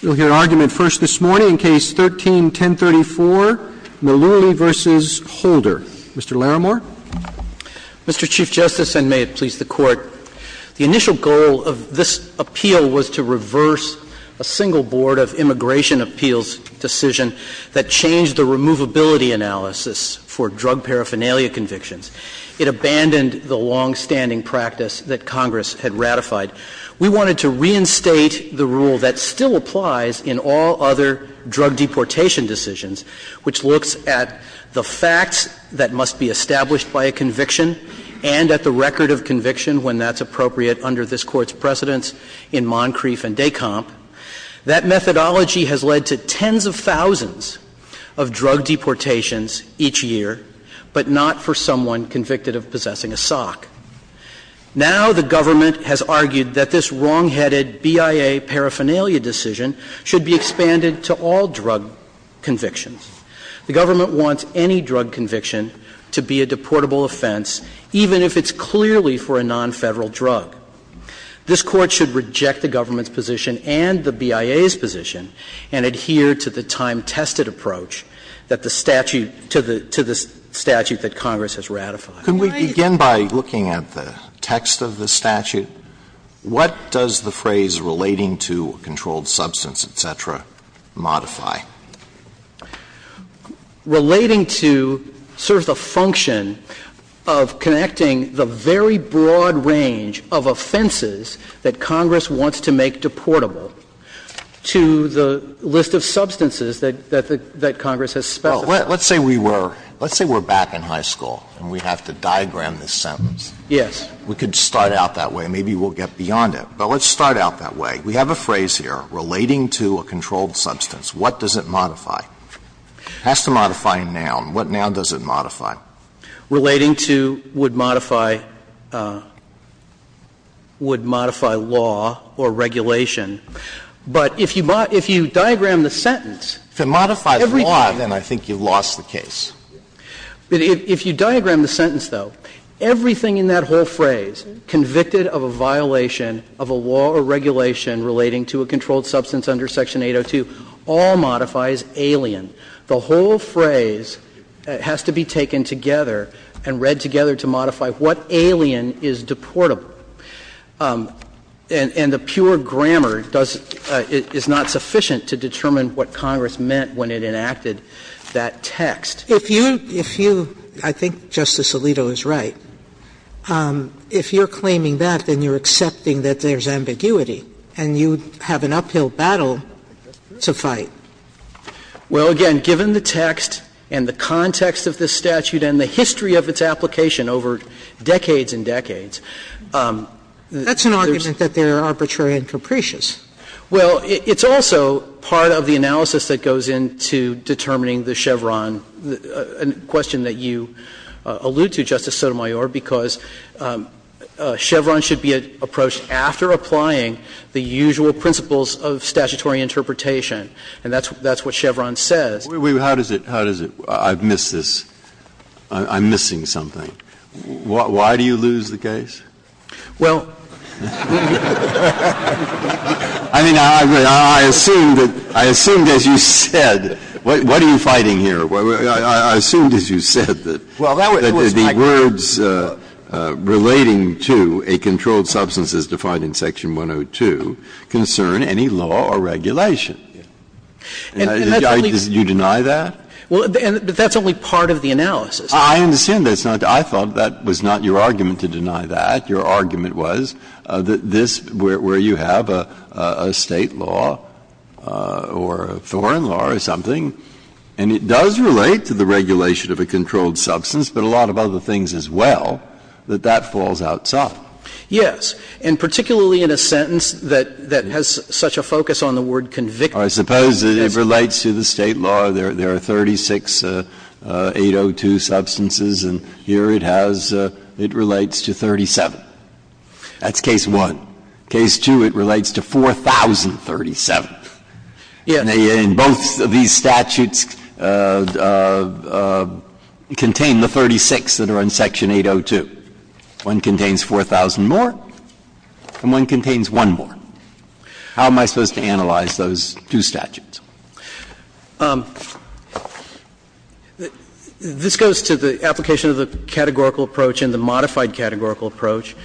Mr. Chief Justice, and may it please the Court, the initial goal of this appeal was to reverse a single Board of Immigration Appeals decision that changed the removability analysis for drug paraphernalia convictions. It abandoned the long-standing practice that Congress had ratified. We wanted to reinstate the rule that still applies in all other drug deportation decisions, which looks at the facts that must be established by a conviction and at the record of conviction when that's appropriate under this Court's precedence in Moncrief and Descamp. That methodology has led to tens of thousands of drug deportations each year, but not for someone convicted of possessing a sock. Now the government has argued that this wrongheaded BIA paraphernalia decision should be expanded to all drug convictions. The government wants any drug conviction to be a deportable offense, even if it's clearly for a non-Federal drug. This Court should reject the government's position and the BIA's position and adhere to the time-tested approach that the statute to the statute that Congress has ratified. Alito, could we begin by looking at the text of the statute? What does the phrase, relating to a controlled substance, et cetera, modify? Relating to sort of the function of connecting the very broad range of offenses that Congress wants to make deportable to the list of substances that the – that Congress has spelled out. Alito, let's say we were – let's say we're back in high school and we have to diagram this sentence. Yes. We could start out that way and maybe we'll get beyond it. But let's start out that way. We have a phrase here, relating to a controlled substance. What does it modify? It has to modify a noun. What noun does it modify? Relating to would modify – would modify law or regulation. We've lost the case. But if you diagram the sentence, though, everything in that whole phrase, convicted of a violation of a law or regulation relating to a controlled substance under Section 802, all modifies alien. The whole phrase has to be taken together and read together to modify what alien is deportable. And the pure grammar does – is not sufficient to determine what Congress meant when it enacted that text. If you – if you – I think Justice Alito is right. If you're claiming that, then you're accepting that there's ambiguity and you have an uphill battle to fight. Well, again, given the text and the context of this statute and the history of its application over decades and decades, there's – That's an argument that they're arbitrary and capricious. Well, it's also part of the analysis that goes into determining the Chevron, a question that you allude to, Justice Sotomayor, because Chevron should be approached after applying the usual principles of statutory interpretation. And that's what Chevron says. Wait, wait. How does it – how does it – I've missed this. I'm missing something. Why do you lose the case? Well, I mean, I assumed that – I assumed, as you said, what are you fighting here? I assumed, as you said, that the words relating to a controlled substance as defined in Section 102 concern any law or regulation. And you deny that? Well, that's only part of the analysis. I understand that's not – I thought that was not your argument to deny that. Your argument was that this – where you have a State law or a foreign law or something, and it does relate to the regulation of a controlled substance, but a lot of other things as well, that that falls out soft. Yes. And particularly in a sentence that has such a focus on the word convicted. I suppose that it relates to the State law. There are 36 802 substances, and here it has – it relates to 37. That's case one. Case two, it relates to 4,037. And both of these statutes contain the 36 that are in Section 802. One contains 4,000 more, and one contains one more. How am I supposed to analyze those two statutes? This goes to the application of the categorical approach and the modified categorical approach.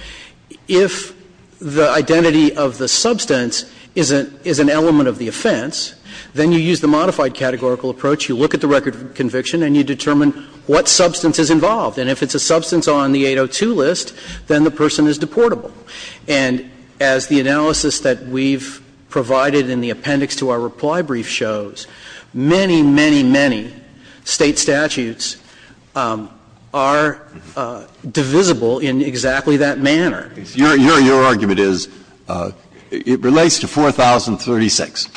If the identity of the substance is an element of the offense, then you use the modified categorical approach. You look at the record of conviction and you determine what substance is involved. And if it's a substance on the 802 list, then the person is deportable. And as the analysis that we've provided in the appendix to our reply brief shows, many, many, many State statutes are divisible in exactly that manner. Your argument is it relates to 4,036,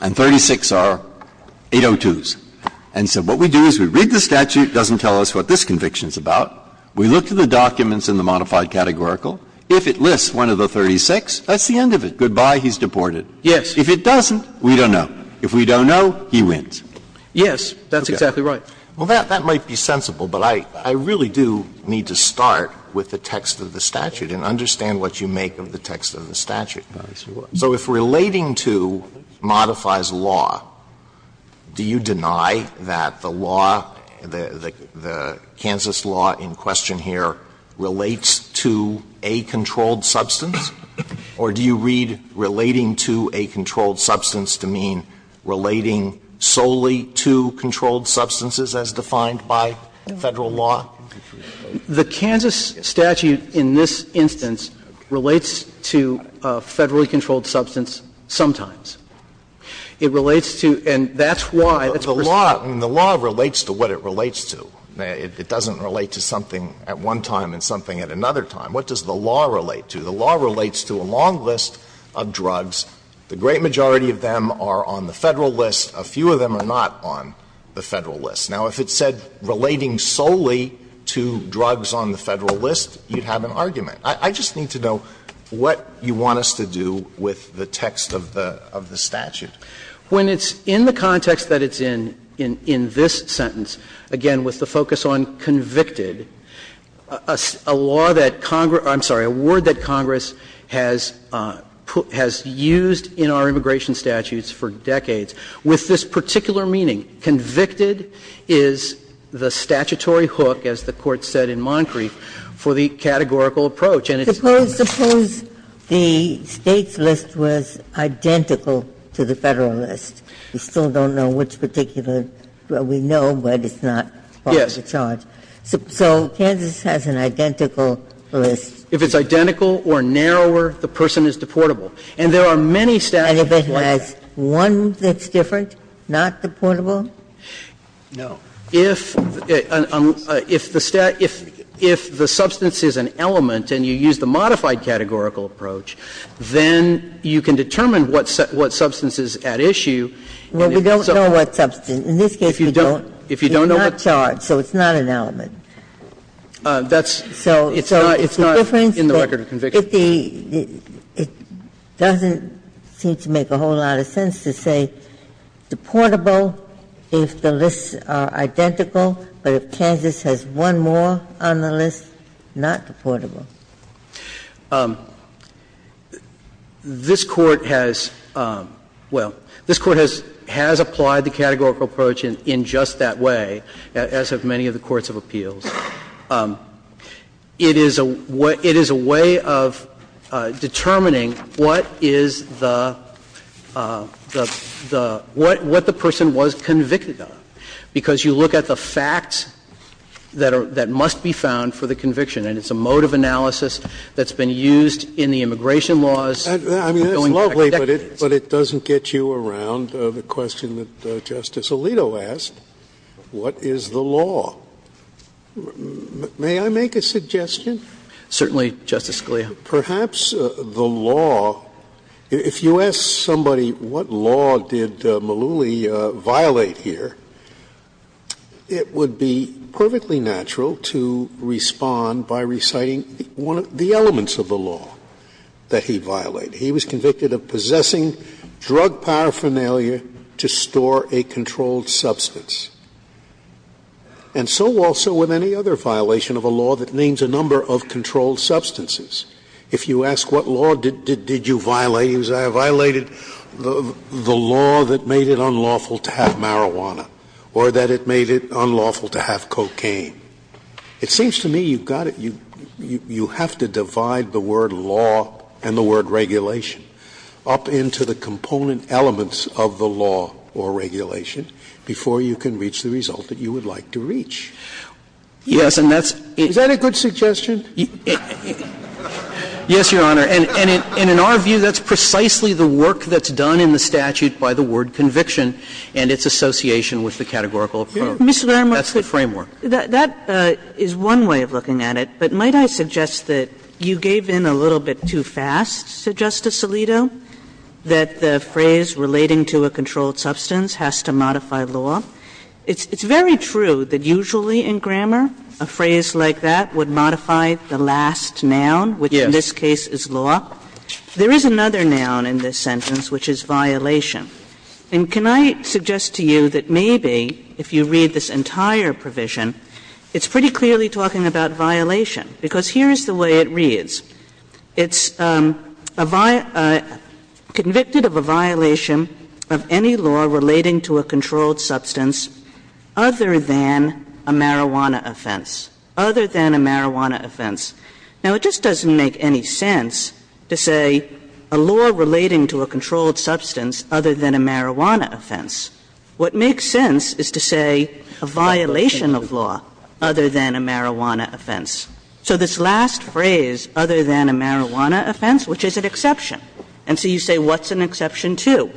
and 36 are 802s. And so what we do is we read the statute. It doesn't tell us what this conviction is about. We look to the documents in the modified categorical. If it lists one of the 36, that's the end of it. Goodbye, he's deported. If it doesn't, we don't know. If we don't know, he wins. Yes, that's exactly right. Alito, that might be sensible, but I really do need to start with the text of the statute and understand what you make of the text of the statute. So if relating to modifies law, do you deny that the law, the Kansas law in question here, relates to a controlled substance, or do you read relating to a controlled substance to mean relating solely to controlled substances as defined by Federal law? The Kansas statute in this instance relates to a Federally controlled substance sometimes. It relates to, and that's why, that's where it's at. The law relates to what it relates to. It doesn't relate to something at one time and something at another time. What does the law relate to? The law relates to a long list of drugs. The great majority of them are on the Federal list. A few of them are not on the Federal list. Now, if it said relating solely to drugs on the Federal list, you'd have an argument. I just need to know what you want us to do with the text of the statute. When it's in the context that it's in, in this sentence, again, with the focus on convicted, a law that Congress – I'm sorry, a word that Congress has used in our immigration statutes for decades, with this particular meaning, convicted is the statutory hook, as the Court said in Moncrieff, for the categorical approach, and it's not a The State's list was identical to the Federal list. We still don't know which particular drug we know, but it's not part of the charge. So Kansas has an identical list. If it's identical or narrower, the person is deportable. And there are many statutes that want that. And if it has one that's different, not deportable? No. If the stat – if the substance is an element and you use the modified categorical approach, then you can determine what substance is at issue. Well, we don't know what substance. In this case, we don't. If you don't know what substance. It's not charged, so it's not an element. That's – so it's not in the record of conviction. It doesn't seem to make a whole lot of sense to say deportable if the lists are identical, but if Kansas has one more on the list, not deportable. This Court has – well, this Court has applied the categorical approach in just that way, as have many of the courts of appeals. It is a way of determining what is the – what the person was convicted of, because you look at the facts that are – that must be found for the conviction. And it's a mode of analysis that's been used in the immigration laws for going Scalia, but it doesn't get you around the question that Justice Alito asked, what is the law? May I make a suggestion? Certainly, Justice Scalia. Perhaps the law – if you ask somebody, what law did Malooly violate here, it would be perfectly natural to respond by reciting one of the elements of the law that he violated. He was convicted of possessing drug paraphernalia to store a controlled substance. And so also with any other violation of a law that names a number of controlled substances. If you ask what law did you violate, he would say I violated the law that made it unlawful to have marijuana or that it made it unlawful to have cocaine. It seems to me you've got to – you have to divide the word law and the word regulation up into the component elements of the law or regulation before you can reach the result that you would like to reach. Yes, and that's – Is that a good suggestion? Yes, Your Honor. And in our view, that's precisely the work that's done in the statute by the word regulation, by the word conviction, and its association with the categorical approach. That's the framework. That is one way of looking at it, but might I suggest that you gave in a little bit too fast, Justice Alito, that the phrase relating to a controlled substance has to modify law? It's very true that usually in grammar a phrase like that would modify the last noun, which in this case is law. There is another noun in this sentence which is violation. And can I suggest to you that maybe if you read this entire provision, it's pretty clearly talking about violation, because here is the way it reads. It's a – convicted of a violation of any law relating to a controlled substance other than a marijuana offense, other than a marijuana offense. Now, it just doesn't make any sense to say a law relating to a controlled substance other than a marijuana offense. What makes sense is to say a violation of law other than a marijuana offense. So this last phrase, other than a marijuana offense, which is an exception. And so you say what's an exception to?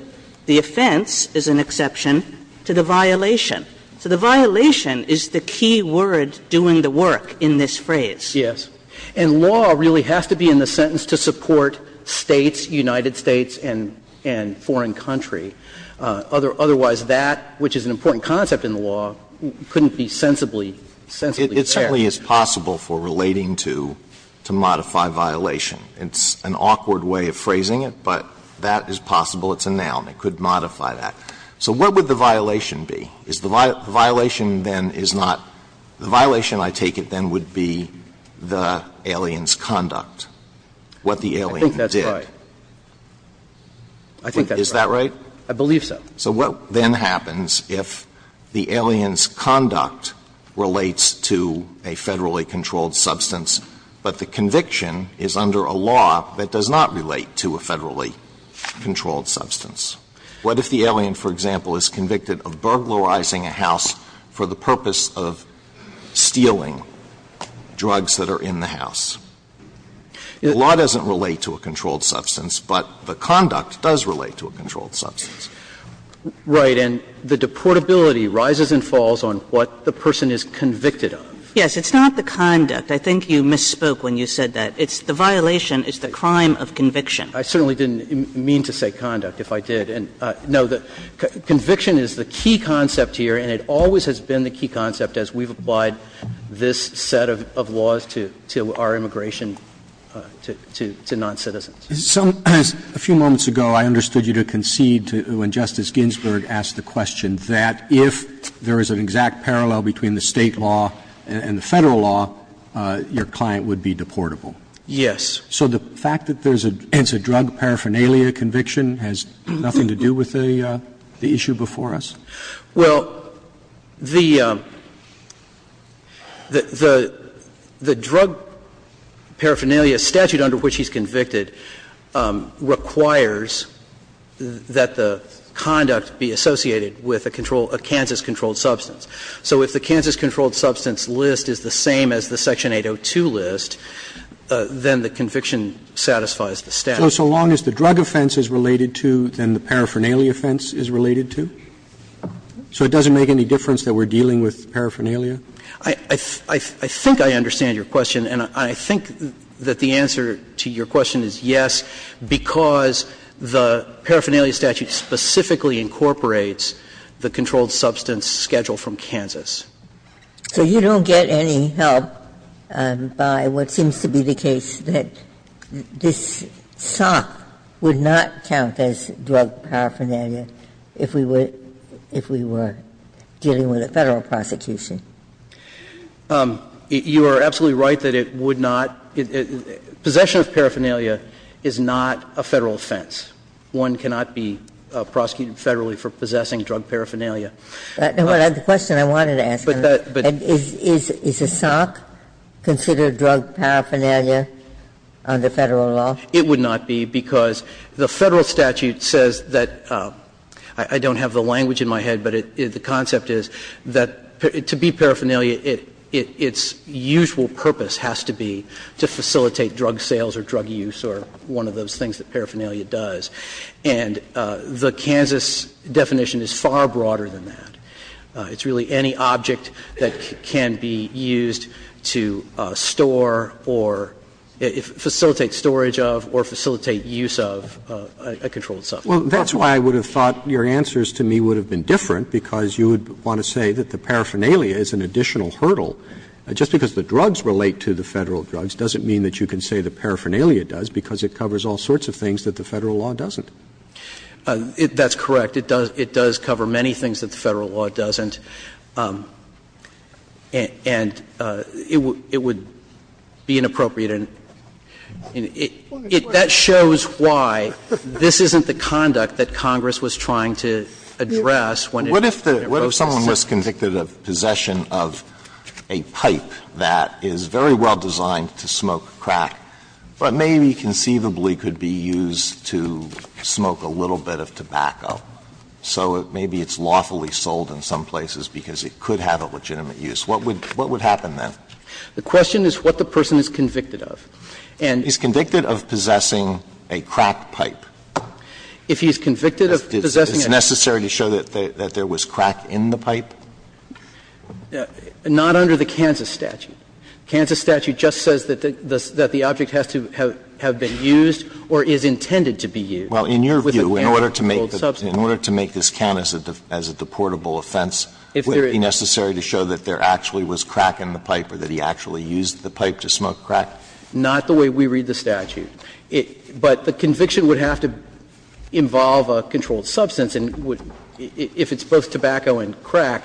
The offense is an exception to the violation. So the violation is the key word doing the work in this phrase. Yes. And law really has to be in the sentence to support States, United States, and foreign country, otherwise that, which is an important concept in the law, couldn't be sensibly Alito, it certainly is possible for relating to, to modify violation. It's an awkward way of phrasing it, but that is possible. It's a noun. It could modify that. So what would the violation be? Is the violation then is not – the violation, I take it, then would be the alien's conduct, what the alien did. I think that's right. I think that's right. Is that right? I believe so. So what then happens if the alien's conduct relates to a Federally controlled substance, but the conviction is under a law that does not relate to a Federally controlled substance? What if the alien, for example, is convicted of burglarizing a house for the purpose of stealing drugs that are in the house? The law doesn't relate to a controlled substance, but the conduct does relate to a controlled substance. Right. And the deportability rises and falls on what the person is convicted of. Yes. It's not the conduct. I think you misspoke when you said that. It's the violation. It's the crime of conviction. I certainly didn't mean to say conduct, if I did. And no, conviction is the key concept here, and it always has been the key concept as we've applied this set of laws to our immigration to noncitizens. A few moments ago, I understood you to concede when Justice Ginsburg asked the question that if there is an exact parallel between the State law and the Federal law, your client would be deportable. Yes. So the fact that there's a drug paraphernalia conviction has nothing to do with the issue before us? Well, the drug paraphernalia statute under which he's convicted requires that the conduct be associated with a Kansas controlled substance. So if the Kansas controlled substance list is the same as the Section 802 list, then the conviction satisfies the statute. So long as the drug offense is related to, then the paraphernalia offense is related to? So it doesn't make any difference that we're dealing with paraphernalia? I think I understand your question, and I think that the answer to your question is yes, because the paraphernalia statute specifically incorporates the controlled substance schedule from Kansas. So you don't get any help by what seems to be the case that this SOC would not count as drug paraphernalia if we were dealing with a Federal prosecution? You are absolutely right that it would not. Possession of paraphernalia is not a Federal offense. One cannot be prosecuted Federally for possessing drug paraphernalia. The question I wanted to ask, is the SOC considered drug paraphernalia under Federal law? It would not be, because the Federal statute says that – I don't have the language in my head, but the concept is that to be paraphernalia, its usual purpose has to be to facilitate drug sales or drug use or one of those things that paraphernalia does. And the Kansas definition is far broader than that. It's really any object that can be used to store or facilitate storage of, or store of, or facilitate use of a controlled substance. Roberts. Roberts. Well, that's why I would have thought your answers to me would have been different, because you would want to say that the paraphernalia is an additional hurdle. Just because the drugs relate to the Federal drugs doesn't mean that you can say the paraphernalia does, because it covers all sorts of things that the Federal law doesn't. That's correct. It does cover many things that the Federal law doesn't. And it would be inappropriate, and it – that shows why this isn't the conduct that Congress was trying to address when it goes to the State. What if the – what if someone was convicted of possession of a pipe that is very well designed to smoke crack, but maybe conceivably could be used to smoke a little bit of tobacco? So maybe it's lawfully sold in some places because it could have a legitimate use. What would happen then? The question is what the person is convicted of. And he's convicted of possessing a crack pipe. If he's convicted of possessing a crack pipe. Is it necessary to show that there was crack in the pipe? Not under the Kansas statute. The Kansas statute just says that the object has to have been used or is intended to be used. Well, in your view, in order to make this count as a deportable offense, would it be necessary to show that there actually was crack in the pipe or that he actually used the pipe to smoke crack? Not the way we read the statute. But the conviction would have to involve a controlled substance. And if it's both tobacco and crack,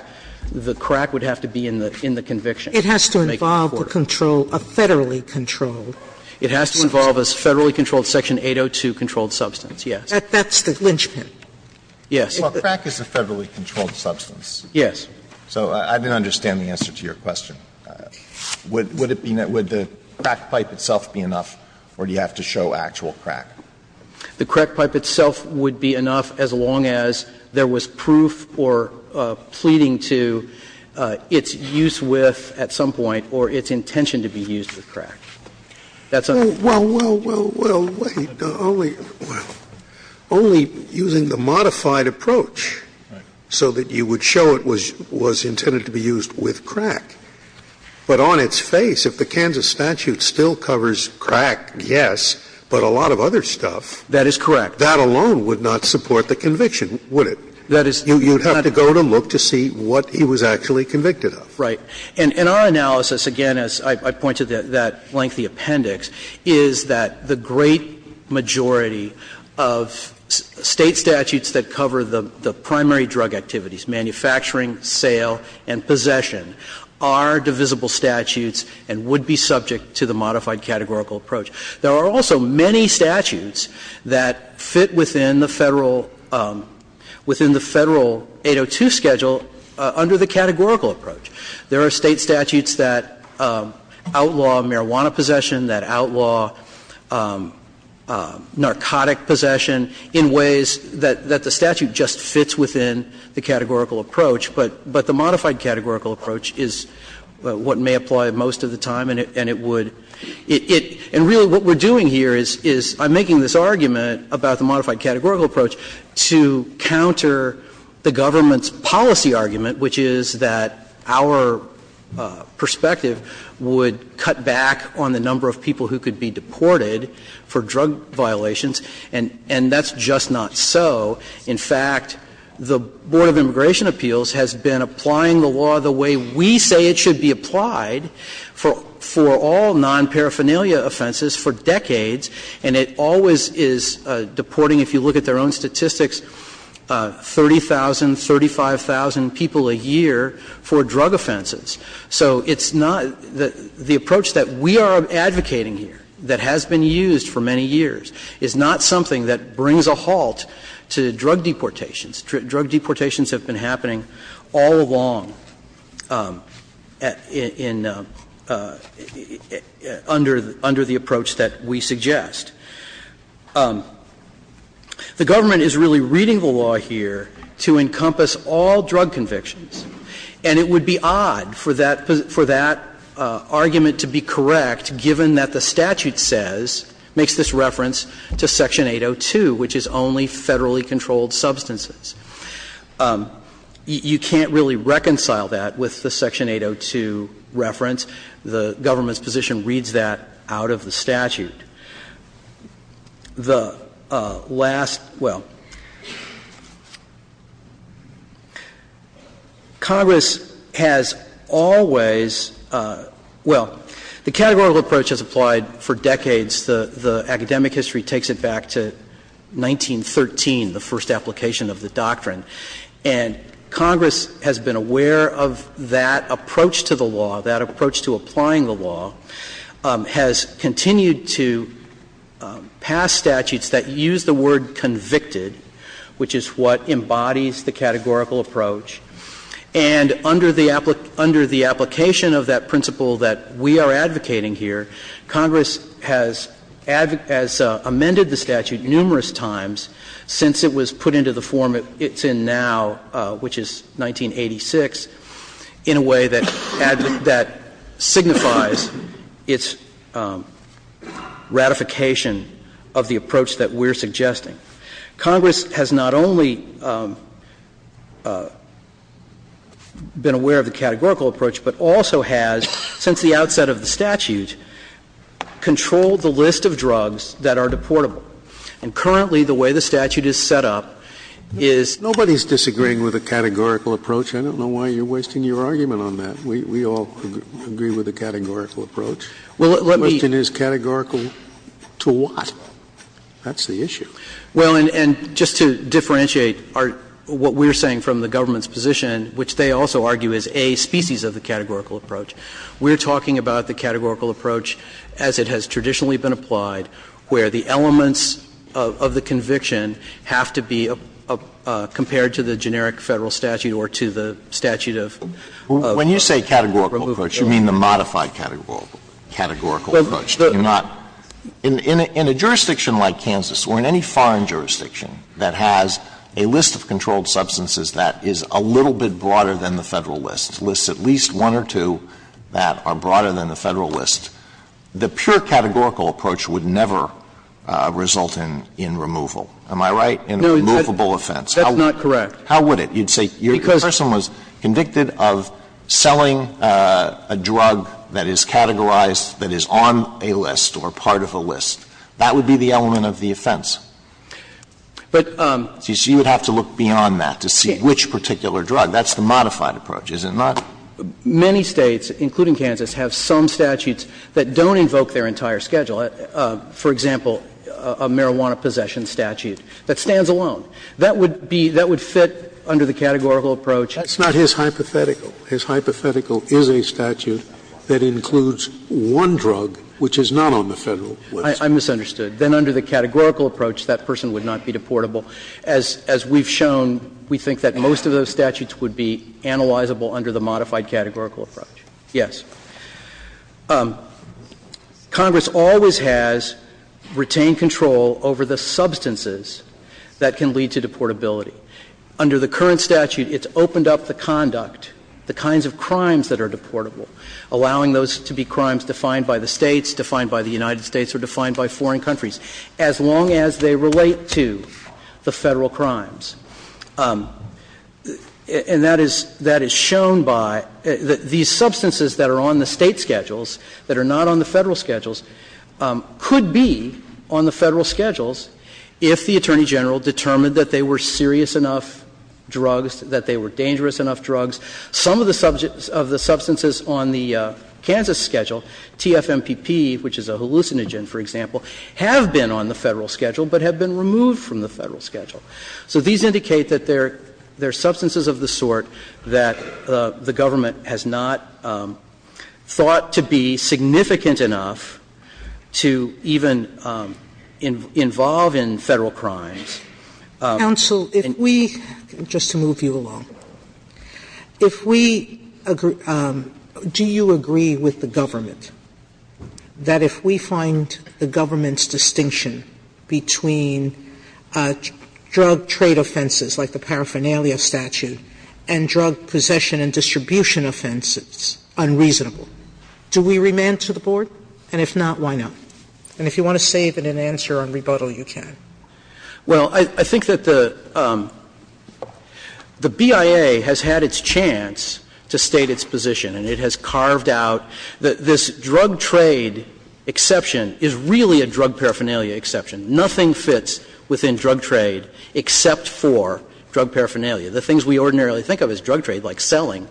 the crack would have to be in the conviction. It has to involve the control, a Federally controlled substance. It has to involve a Federally controlled section 802 controlled substance, Sotomayor, that's the linchpin. Yes. Well, crack is a Federally controlled substance. Yes. So I didn't understand the answer to your question. Would it be the crack pipe itself be enough or do you have to show actual crack? The crack pipe itself would be enough as long as there was proof or pleading to its use with at some point or its intention to be used with crack. That's a question. Well, well, well, well, wait. Only using the modified approach so that you would show it was intended to be used with crack, but on its face, if the Kansas statute still covers crack, yes, but a lot of other stuff, that alone would not support the conviction, would it? You would have to go to look to see what he was actually convicted of. Right. And our analysis, again, as I pointed to that lengthy appendix, is that the great majority of State statutes that cover the primary drug activities, manufacturing, sale, and possession, are divisible statutes and would be subject to the modified categorical approach. There are also many statutes that fit within the Federal 802 schedule under the categorical approach. There are State statutes that outlaw marijuana possession, that outlaw narcotic possession in ways that the statute just fits within the categorical approach, but the modified categorical approach is what may apply most of the time and it would – and really what we're doing here is I'm making this argument about the modified categorical approach, that our perspective would cut back on the number of people who could be deported for drug violations, and that's just not so. In fact, the Board of Immigration Appeals has been applying the law the way we say it should be applied for all non-paraphernalia offenses for decades, and it always is deporting, if you look at their own statistics, 30,000, 35,000 people a year for drug offenses. So it's not – the approach that we are advocating here that has been used for many years is not something that brings a halt to drug deportations. Drug deportations have been happening all along in – under the approach that we suggest. The government is really reading the law here to encompass all drug convictions, and it would be odd for that – for that argument to be correct, given that the statute says – makes this reference to Section 802, which is only federally controlled substances. You can't really reconcile that with the Section 802 reference. The government's position reads that out of the statute. The last – well, Congress has always – well, the categorical approach has applied for decades. The academic history takes it back to 1913, the first application of the doctrine. And Congress has been aware of that approach to the law, that approach to applying the law, has continued to pass statutes that use the word convicted, which is what embodies the categorical approach. And under the application of that principle that we are advocating here, Congress has amended the statute numerous times since it was put into the form it's in now, which is 1986, in a way that signifies its ratification of the approach that we're suggesting. Congress has not only been aware of the categorical approach, but also has, since the outset of the statute, controlled the list of drugs that are deportable. And currently, the way the statute is set up is – Scalia, I don't know why you're wasting your argument on that. We all agree with the categorical approach. The question is categorical to what? That's the issue. Well, and just to differentiate what we're saying from the government's position, which they also argue is a species of the categorical approach, we're talking about the categorical approach as it has traditionally been applied, where the elements of the conviction have to be compared to the generic Federal statute or to the statute of removal. When you say categorical approach, you mean the modified categorical approach, do you not? In a jurisdiction like Kansas or in any foreign jurisdiction that has a list of controlled substances that is a little bit broader than the Federal list, lists at least one or two that are broader than the Federal list, the pure categorical approach would never result in removal, am I right? In a removable offense. That's not correct. How would it? You'd say your person was convicted of selling a drug that is categorized, that is on a list or part of a list. That would be the element of the offense. But you would have to look beyond that to see which particular drug. That's the modified approach, is it not? Many States, including Kansas, have some statutes that don't invoke their entire schedule, for example, a marijuana possession statute that stands alone. That would be, that would fit under the categorical approach. Scalia, that's not his hypothetical. His hypothetical is a statute that includes one drug which is not on the Federal list. I misunderstood. Then under the categorical approach, that person would not be deportable. As we've shown, we think that most of those statutes would be analyzable under the modified categorical approach. Yes. Congress always has retained control over the substances that can lead to deportability. Under the current statute, it's opened up the conduct, the kinds of crimes that are deportable, allowing those to be crimes defined by the States, defined by the United States or defined by foreign countries, as long as they relate to the Federal crimes. And that is, that is shown by, these substances that are on the State schedules that are not on the Federal schedules could be on the Federal schedules if the Attorney General determined that they were serious enough drugs, that they were dangerous enough drugs. Some of the substances on the Kansas schedule, TFMPP, which is a hallucinogen, for example, have been on the Federal schedule but have been removed from the Federal schedule. So these indicate that there are substances of the sort that the government has not thought to be significant enough to even involve in Federal crimes. Sotomayor, just to move you along, if we agree, do you agree with the government that if we find the government's distinction between drug trade offenses, like the paraphernalia statute, and drug possession and distribution offenses unreasonable, do we remand to the Board? And if not, why not? And if you want to save it and answer on rebuttal, you can. Well, I think that the BIA has had its chance to state its position, and it has carved out that this drug trade exception is really a drug paraphernalia exception. Nothing fits within drug trade except for drug paraphernalia. The things we ordinarily think of as drug trade, like selling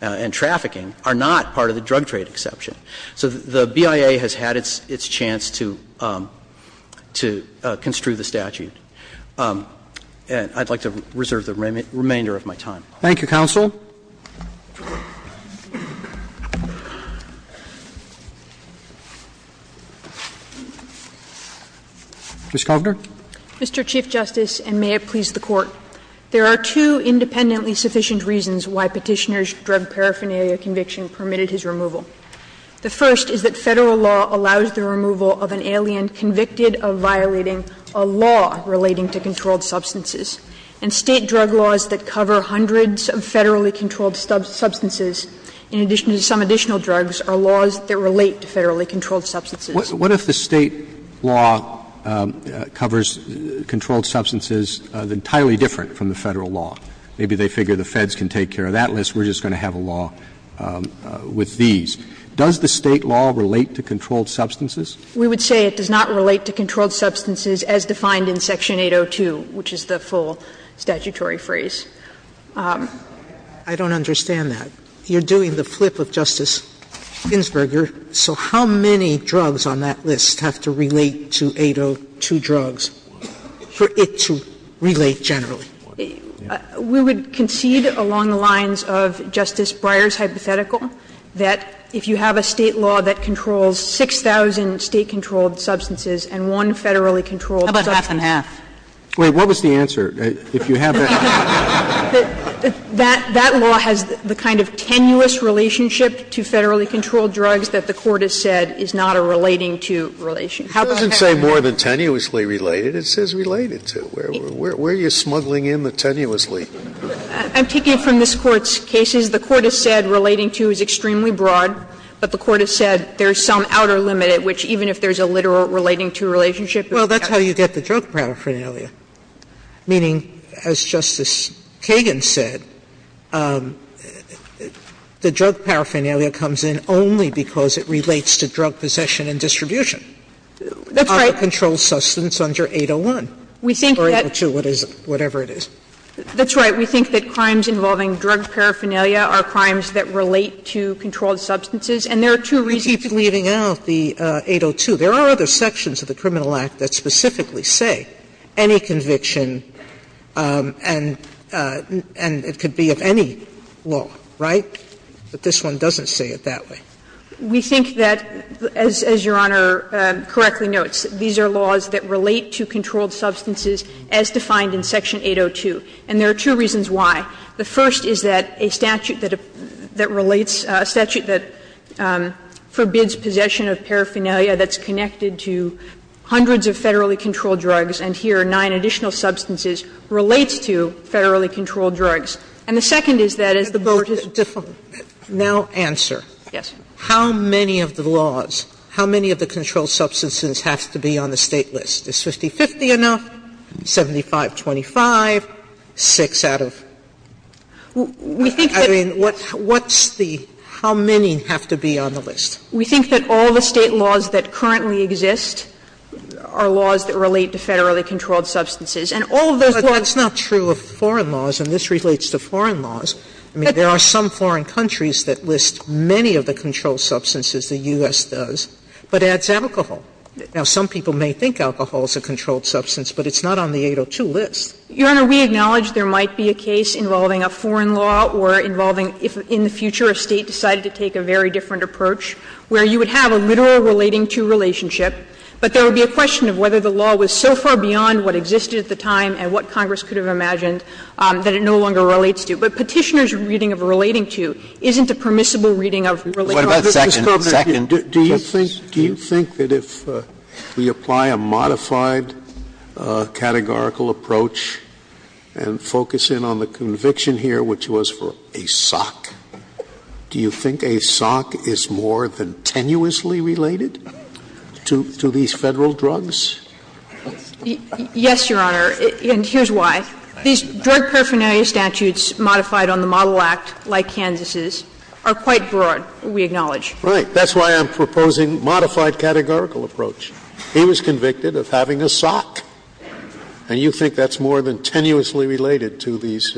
and trafficking, are not part of the drug trade exception. So the BIA has had its chance to construe the statute. And I'd like to reserve the remainder of my time. Thank you, counsel. Ms. Kovner. Mr. Chief Justice, and may it please the Court. There are two independently sufficient reasons why Petitioner's drug paraphernalia conviction permitted his removal. The first is that Federal law allows the removal of an alien convicted of violating a law relating to controlled substances. And State drug laws that cover hundreds of Federally controlled substances, in addition to some additional drugs, are laws that relate to Federally controlled substances. What if the State law covers controlled substances entirely different from the Federal law? Maybe they figure the Feds can take care of that list, we're just going to have a law with these. Does the State law relate to controlled substances? We would say it does not relate to controlled substances as defined in Section 802, which is the full statutory phrase. I don't understand that. You're doing the flip of Justice Ginsburg. So how many drugs on that list have to relate to 802 drugs for it to relate generally? We would concede along the lines of Justice Breyer's hypothetical that if you have a State law that controls 6,000 State controlled substances and one Federally controlled substance. How about half and half? Wait, what was the answer? If you have that. That law has the kind of tenuous relationship to Federally controlled drugs that the Court has said is not a relating to relationship. It doesn't say more than tenuously related. It says related to. Where are you smuggling in the tenuously? I'm taking it from this Court's cases. The Court has said relating to is extremely broad, but the Court has said there is some outer limit at which even if there is a literal relating to relationship. Well, that's how you get the drug paraphernalia, meaning, as Justice Kagan said, the drug paraphernalia comes in only because it relates to drug possession and distribution. That's right. Of the controlled substance under 801 or 802, whatever it is. That's right. We think that crimes involving drug paraphernalia are crimes that relate to controlled substances, and there are two reasons. You keep leaving out the 802. There are other sections of the Criminal Act that specifically say any conviction and it could be of any law, right? But this one doesn't say it that way. We think that, as Your Honor correctly notes, these are laws that relate to controlled substances as defined in section 802. And there are two reasons why. The first is that a statute that relates, a statute that forbids possession of paraphernalia that's connected to hundreds of federally controlled drugs, and here are nine additional substances, relates to federally controlled drugs. And the second is that as the Board has defined. Sotomayor Now, answer. Yes. How many of the laws, how many of the controlled substances have to be on the State list? Is 50-50 enough? 75-25? Six out of? I mean, what's the how many have to be on the list? We think that all the State laws that currently exist are laws that relate to federally controlled substances. And all of those laws. But that's not true of foreign laws, and this relates to foreign laws. I mean, there are some foreign countries that list many of the controlled substances, the U.S. does, but adds alcohol. Now, some people may think alcohol is a controlled substance, but it's not on the 802 list. Your Honor, we acknowledge there might be a case involving a foreign law or involving if in the future a State decided to take a very different approach, where you would have a literal relating-to relationship, but there would be a question of whether the law was so far beyond what existed at the time and what Congress could have imagined that it no longer relates to. But Petitioner's reading of relating-to isn't a permissible reading of relating- to. Scalia, do you think that if we apply a modified categorical approach and focus in on the conviction here, which was for a SOC, do you think a SOC is more than tenuously related to these Federal drugs? Yes, Your Honor, and here's why. These drug paraphernalia statutes modified on the Model Act, like Kansas's, are quite broad. We acknowledge. Right. That's why I'm proposing modified categorical approach. He was convicted of having a SOC, and you think that's more than tenuously related to these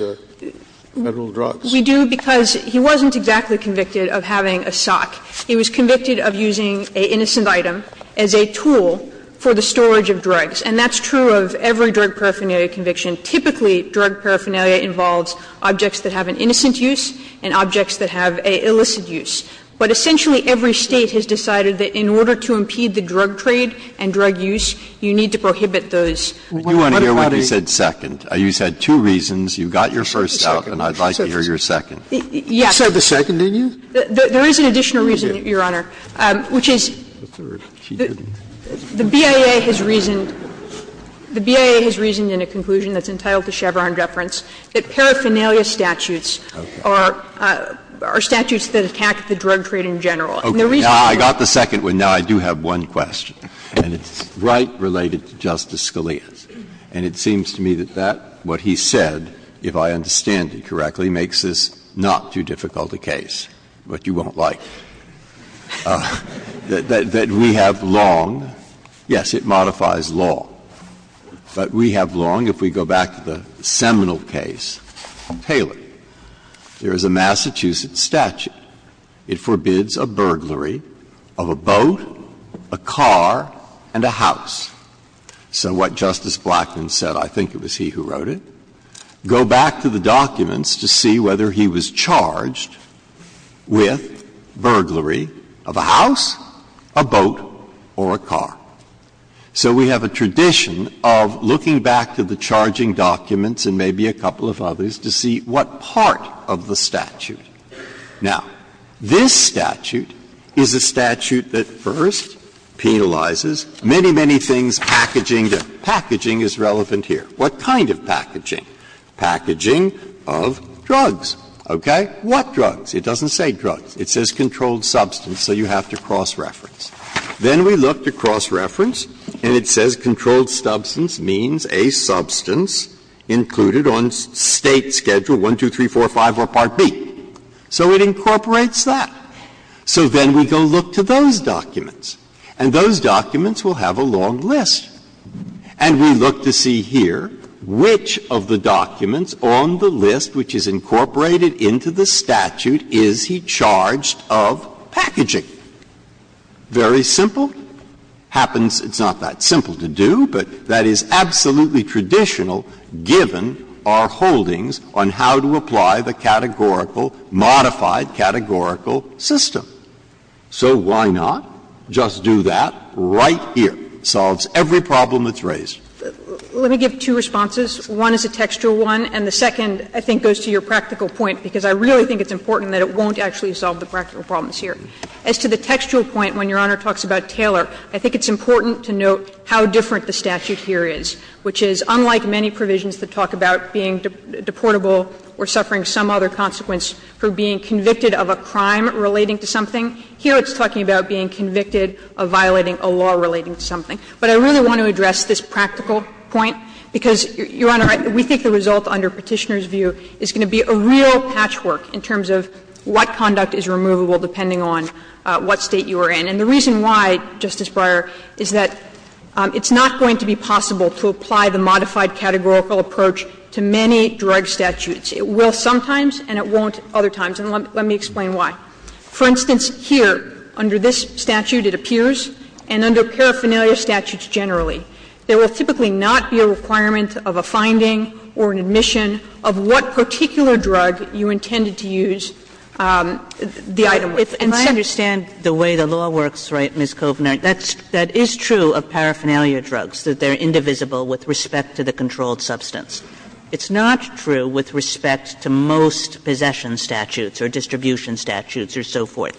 Federal drugs? We do because he wasn't exactly convicted of having a SOC. He was convicted of using an innocent item as a tool for the storage of drugs, and that's true of every drug paraphernalia conviction. Typically, drug paraphernalia involves objects that have an innocent use and objects that have an illicit use, but essentially every State has decided that in order to impede the drug trade and drug use, you need to prohibit those. I do want to hear what you said second. You said two reasons. You got your first out, and I'd like to hear your second. Yes. You said the second, didn't you? There is an additional reason, Your Honor, which is the BIA has reasoned in a conclusion that's entitled to Chevron deference that paraphernalia statutes are statutes that attack the drug trade in general. Now, I got the second one. Now, I do have one question, and it's right related to Justice Scalia's. And it seems to me that that, what he said, if I understand it correctly, makes this not too difficult a case, but you won't like it. That we have long — yes, it modifies law, but we have long, if we go back to the seminal case of Taylor, there is a Massachusetts statute. It forbids a burglary of a boat, a car, and a house. So what Justice Blackmun said, I think it was he who wrote it, go back to the documents to see whether he was charged with burglary of a house, a boat, or a car. So we have a tradition of looking back to the charging documents and maybe a couple of others to see what part of the statute. Now, this statute is a statute that first penalizes many, many things packaging to — packaging is relevant here. What kind of packaging? Packaging of drugs. Okay? What drugs? It doesn't say drugs. It says controlled substance, so you have to cross-reference. Then we look to cross-reference and it says controlled substance means a substance included on State Schedule 1, 2, 3, 4, 5 or Part B. So it incorporates that. So then we go look to those documents, and those documents will have a long list. And we look to see here which of the documents on the list which is incorporated into the statute is he charged of packaging. Very simple. Happens, it's not that simple to do, but that is absolutely traditional given our holdings on how to apply the categorical, modified categorical system. So why not just do that right here? Solves every problem that's raised. Let me give two responses. One is a textual one, and the second, I think, goes to your practical point, because I really think it's important that it won't actually solve the practical problems here. As to the textual point, when Your Honor talks about Taylor, I think it's important to note how different the statute here is, which is unlike many provisions that talk about being deportable or suffering some other consequence for being convicted of a crime relating to something, here it's talking about being convicted of violating a law relating to something. But I really want to address this practical point, because, Your Honor, we think the result under Petitioner's view is going to be a real patchwork in terms of what conduct is removable depending on what State you are in. And the reason why, Justice Breyer, is that it's not going to be possible to apply the modified categorical approach to many drug statutes. It will sometimes and it won't other times, and let me explain why. For instance, here, under this statute it appears, and under paraphernalia statutes generally, there will typically not be a requirement of a finding or an admission of what particular drug you intended to use the item with. Kagan. Kagan. And I understand the way the law works, right, Ms. Kovner. That is true of paraphernalia drugs, that they're indivisible with respect to the controlled substance. It's not true with respect to most possession statutes or distribution statutes or so forth.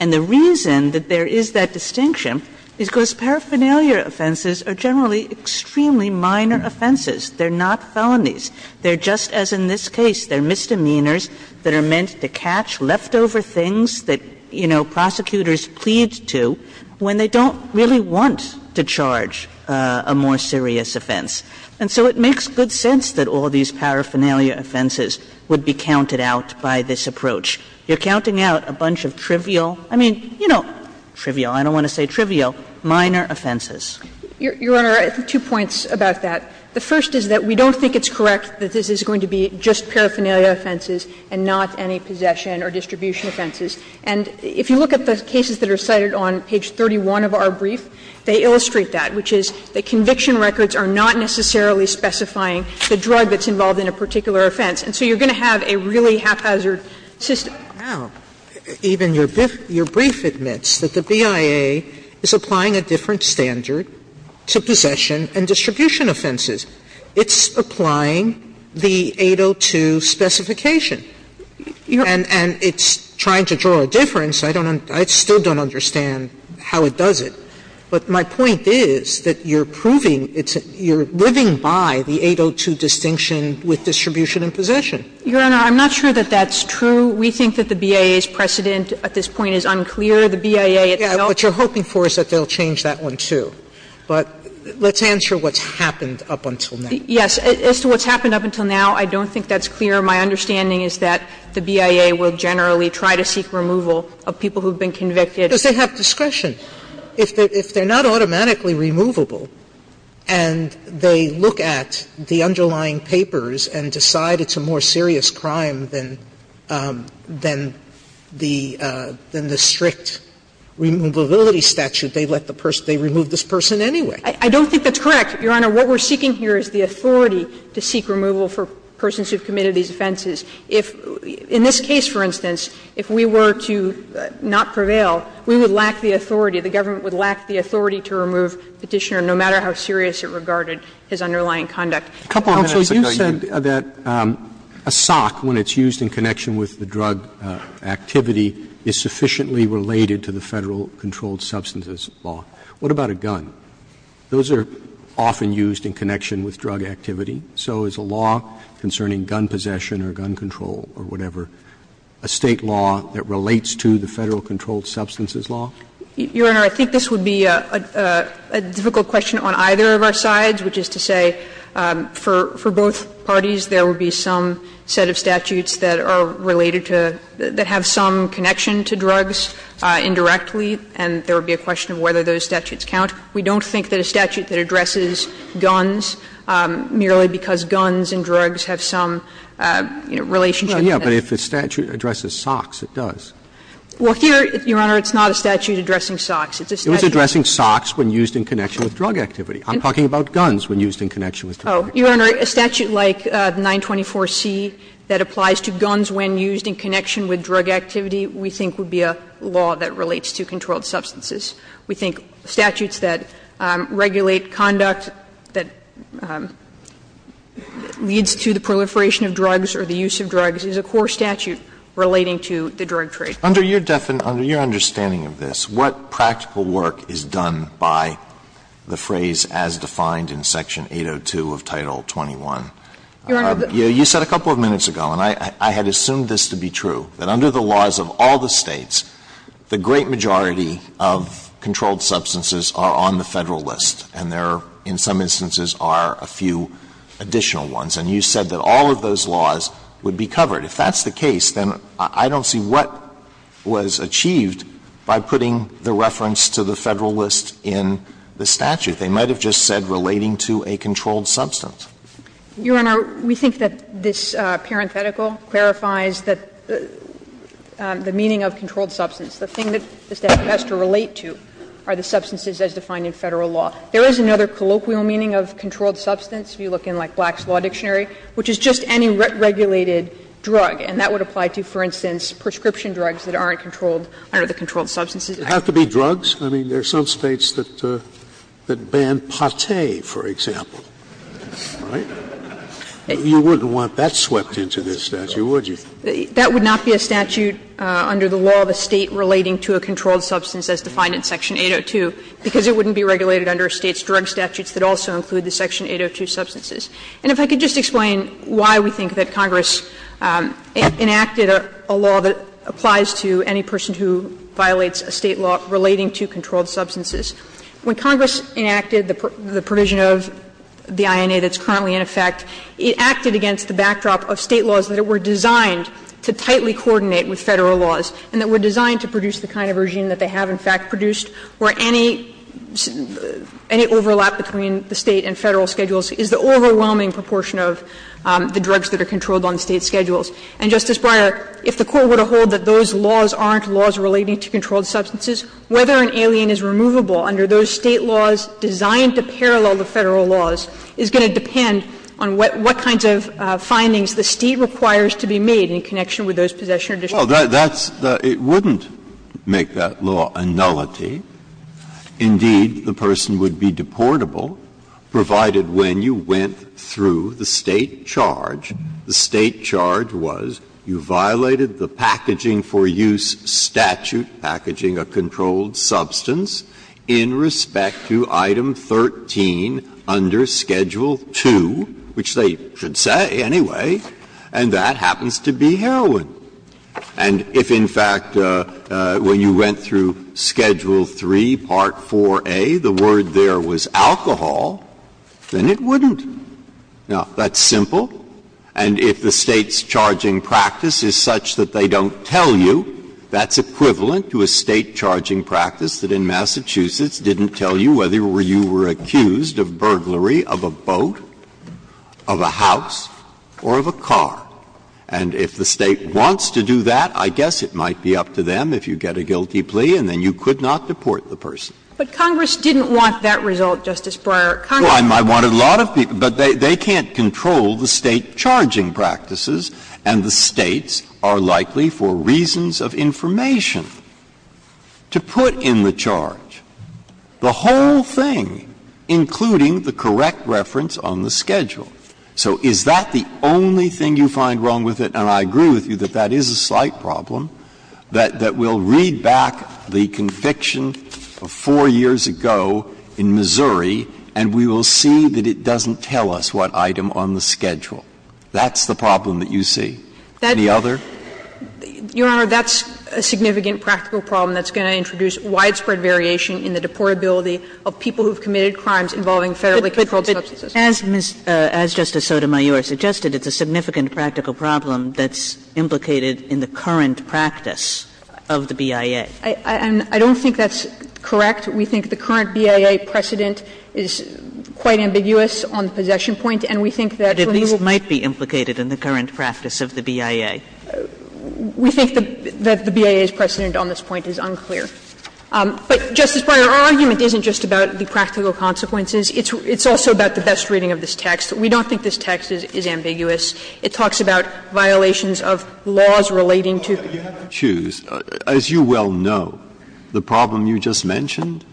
And the reason that there is that distinction is because paraphernalia offenses are generally extremely minor offenses. They're not felonies. They're just, as in this case, they're misdemeanors that are meant to catch leftover things that, you know, prosecutors plead to when they don't really want to charge a more serious offense. And so it makes good sense that all these paraphernalia offenses would be counted out by this approach. You're counting out a bunch of trivial, I mean, you know, trivial, I don't want to say trivial, minor offenses. Kovner. Your Honor, I have two points about that. The first is that we don't think it's correct that this is going to be just paraphernalia offenses and not any possession or distribution offenses. And if you look at the cases that are cited on page 31 of our brief, they illustrate that, which is that conviction records are not necessarily specifying the drug that's involved in a particular offense. And so you're going to have a really haphazard system. Sotomayor, even your brief admits that the BIA is applying a different standard to possession and distribution offenses. It's applying the 802 specification. And it's trying to draw a difference. I still don't understand how it does it. But my point is that you're proving it's a – you're living by the 802 distinction with distribution and possession. Your Honor, I'm not sure that that's true. We think that the BIA's precedent at this point is unclear. The BIA, it's not – Sotomayor, what you're hoping for is that they'll change that one, too. But let's answer what's happened up until now. Yes. As to what's happened up until now, I don't think that's clear. My understanding is that the BIA will generally try to seek removal of people who've been convicted. Does they have discretion? If they're not automatically removable and they look at the underlying papers and decide it's a more serious crime than the strict removability statute, they let the person – they remove this person anyway. I don't think that's correct, Your Honor. What we're seeking here is the authority to seek removal for persons who've committed these offenses. If – in this case, for instance, if we were to not prevail, we would lack the authority, the government would lack the authority to remove Petitioner, no matter how serious it regarded his underlying conduct. A couple of minutes ago, you said that a sock, when it's used in connection with the drug activity, is sufficiently related to the Federal Controlled Substances Law. What about a gun? Those are often used in connection with drug activity. So is a law concerning gun possession or gun control or whatever a State law that relates to the Federal Controlled Substances Law? Your Honor, I think this would be a difficult question on either of our sides, which is to say, for both parties, there would be some set of statutes that are related to – that have some connection to drugs indirectly, and there would be a question of whether those statutes count. We don't think that a statute that addresses guns, merely because guns and drugs have some, you know, relationship to them. But if a statute addresses socks, it does. Well, here, Your Honor, it's not a statute addressing socks. It's a statute addressing socks when used in connection with drug activity. I'm talking about guns when used in connection with drug activity. Oh, Your Honor, a statute like 924C that applies to guns when used in connection with drug activity, we think would be a law that relates to controlled substances. We think statutes that regulate conduct that leads to the proliferation of drugs or the use of drugs is a core statute relating to the drug trade. Under your definition, under your understanding of this, what practical work is done by the phrase, as defined in Section 802 of Title 21? You said a couple of minutes ago, and I had assumed this to be true, that under the laws of all the States, the great majority of controlled substances are on the Federal list, and there are, in some instances, are a few additional ones. And you said that all of those laws would be covered. If that's the case, then I don't see what was achieved by putting the reference to the Federal list in the statute. They might have just said relating to a controlled substance. Your Honor, we think that this parenthetical clarifies the meaning of controlled substance. The thing that the statute has to relate to are the substances as defined in Federal law. There is another colloquial meaning of controlled substance, if you look in, like, Black's Law Dictionary, which is just any regulated drug. And that would apply to, for instance, prescription drugs that aren't controlled under the controlled substances. Scalia, I mean, there are some States that ban pate, for example, right? You wouldn't want that swept into this statute, would you? That would not be a statute under the law of a State relating to a controlled substance as defined in Section 802, because it wouldn't be regulated under a State's drug statutes that also include the Section 802 substances. And if I could just explain why we think that Congress enacted a law that applies to any person who violates a State law relating to controlled substances. When Congress enacted the provision of the INA that's currently in effect, it acted against the backdrop of State laws that were designed to tightly coordinate with Federal laws and that were designed to produce the kind of regime that they have, in fact, produced, where any overlap between the State and Federal schedules is the overwhelming proportion of the drugs that are controlled on State schedules. And, Justice Breyer, if the Court were to hold that those laws aren't laws relating to controlled substances, whether an alien is removable under those State laws designed to parallel the Federal laws is going to depend on what kinds of findings the State requires to be made in connection with those possession or distribution of drugs. Breyer, it wouldn't make that law a nullity. Indeed, the person would be deportable, provided when you went through the State charge, the State charge was you violated the packaging for use statute, packaging a controlled substance, in respect to item 13 under Schedule 2, which they should say anyway, and that happens to be heroin. And if, in fact, when you went through Schedule 3, Part 4a, the word there was alcohol, then it wouldn't. Now, that's simple. And if the State's charging practice is such that they don't tell you, that's equivalent to a State charging practice that in Massachusetts didn't tell you whether you were accused of burglary of a boat, of a house, or of a car. And if the State wants to do that, I guess it might be up to them if you get a guilty plea and then you could not deport the person. But Congress didn't want that result, Justice Breyer. Well, I wanted a lot of people, but they can't control the State charging practices, and the States are likely, for reasons of information, to put in the charge the whole thing, including the correct reference on the schedule. So is that the only thing you find wrong with it? And I agree with you that that is a slight problem, that we'll read back the conviction of 4 years ago in Missouri and we will see that it doesn't tell us what item on the schedule. That's the problem that you see. Any other? Your Honor, that's a significant practical problem that's going to introduce widespread variation in the deportability of people who have committed crimes involving Federally controlled substances. But as Justice Sotomayor suggested, it's a significant practical problem that's implicated in the current practice of the BIA. And I don't think that's correct. We think the current BIA precedent is quite ambiguous on the possession point, and we think that when you will be able to say that it's a practical problem, it's a practical consequence. We think that the BIA's precedent on this point is unclear. But, Justice Breyer, our argument isn't just about the practical consequences. It's also about the best reading of this text. We don't think this text is ambiguous. It talks about violations of laws relating to Federal controlled substances. As you well know, the problem you just mentioned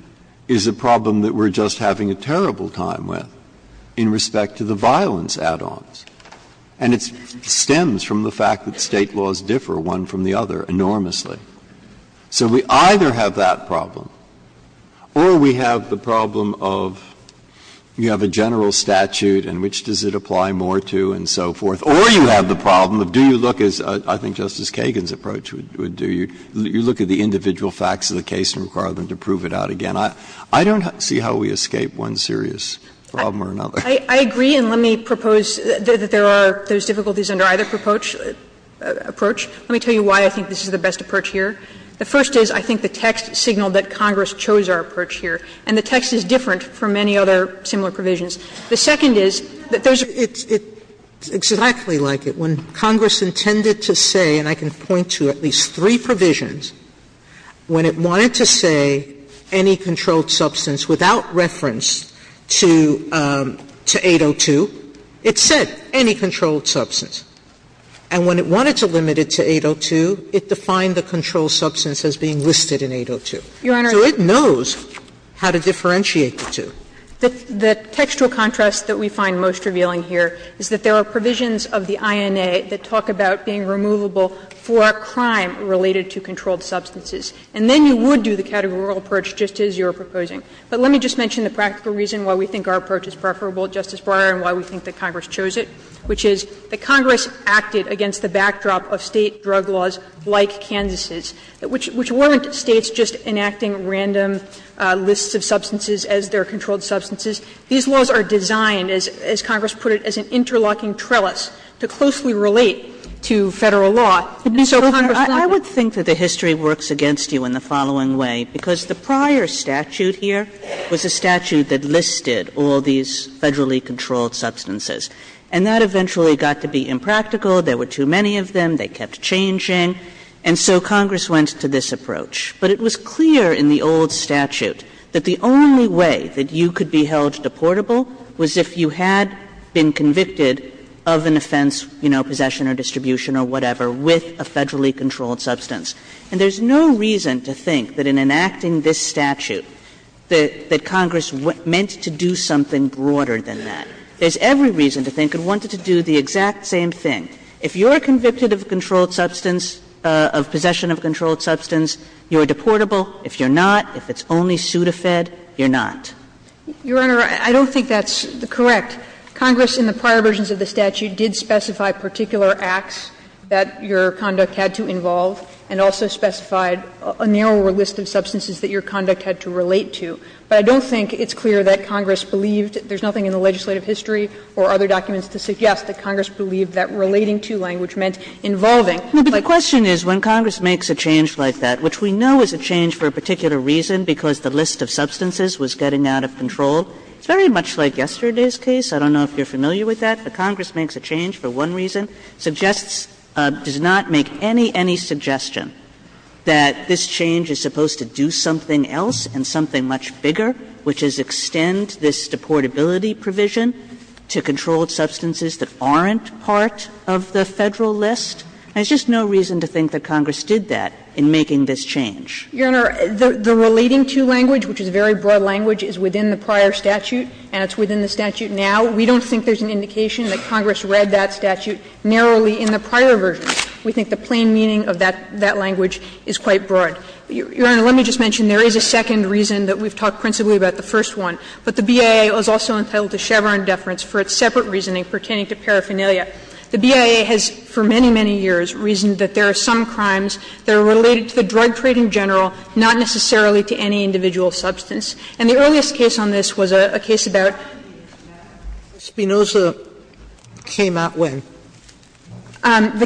is a problem that we're just having a terrible time with in respect to the violence add-ons. And it stems from the fact that State laws differ one from the other enormously. So we either have that problem, or we have the problem of you have a general statute and which does it apply more to and so forth, or you have the problem of do you look at the individual facts of the case and require them to prove it out again. I don't see how we escape one serious problem or another. I agree, and let me propose that there are difficulties under either approach. Let me tell you why I think this is the best approach here. The first is I think the text signaled that Congress chose our approach here, and the text is different from any other similar provisions. The second is that there's a difference. It's exactly like it. When Congress intended to say, and I can point to at least three provisions, when it wanted to say any controlled substance without reference to 802, it said any controlled substance. And when it wanted to limit it to 802, it defined the controlled substance as being listed in 802. So it knows how to differentiate the two. The textual contrast that we find most revealing here is that there are provisions of the INA that talk about being removable for a crime related to controlled substances. And then you would do the categorical approach just as you were proposing. But let me just mention the practical reason why we think our approach is preferable to Justice Breyer and why we think that Congress chose it, which is that Congress acted against the backdrop of State drug laws like Kansas's, which weren't States just enacting random lists of substances as their controlled substances. These laws are designed, as Congress put it, as an interlocking trellis to closely relate to Federal law. And so Congress wanted to do that. Kagan, I would think that the history works against you in the following way, because the prior statute here was a statute that listed all these Federally controlled substances. And that eventually got to be impractical. There were too many of them. They kept changing. And so Congress went to this approach. But it was clear in the old statute that the only way that you could be held deportable was if you had been convicted of an offense, you know, possession or distribution or whatever, with a Federally controlled substance. And there's no reason to think that in enacting this statute that Congress meant to do something broader than that. There's every reason to think it wanted to do the exact same thing. If you're convicted of controlled substance, of possession of controlled substance, you're deportable. If you're not, if it's only pseudofed, you're not. Your Honor, I don't think that's correct. Congress in the prior versions of the statute did specify particular acts that your conduct had to involve and also specified a narrower list of substances that your conduct had to relate to. But I don't think it's clear that Congress believed that there's nothing in the legislative history or other documents to suggest that Congress believed that relating to language meant involving. Kagan But the question is, when Congress makes a change like that, which we know is a change for a particular reason, because the list of substances was getting out of control, it's very much like yesterday's case. I don't know if you're familiar with that. But Congress makes a change for one reason, suggests or does not make any, any suggestion that this change is supposed to do something else and something much bigger, which is extend this deportability provision to controlled substances that aren't part of the Federal list. There's just no reason to think that Congress did that in making this change. Your Honor, the relating to language, which is very broad language, is within the prior statute and it's within the statute now. We don't think there's an indication that Congress read that statute narrowly in the prior versions. We think the plain meaning of that language is quite broad. Your Honor, let me just mention there is a second reason that we've talked principally about the first one. But the BIA was also entitled to Chevron deference for its separate reasoning pertaining to paraphernalia. The BIA has for many, many years reasoned that there are some crimes that are related to the drug trade in general, not necessarily to any individual substance. And the earliest case on this was a case about the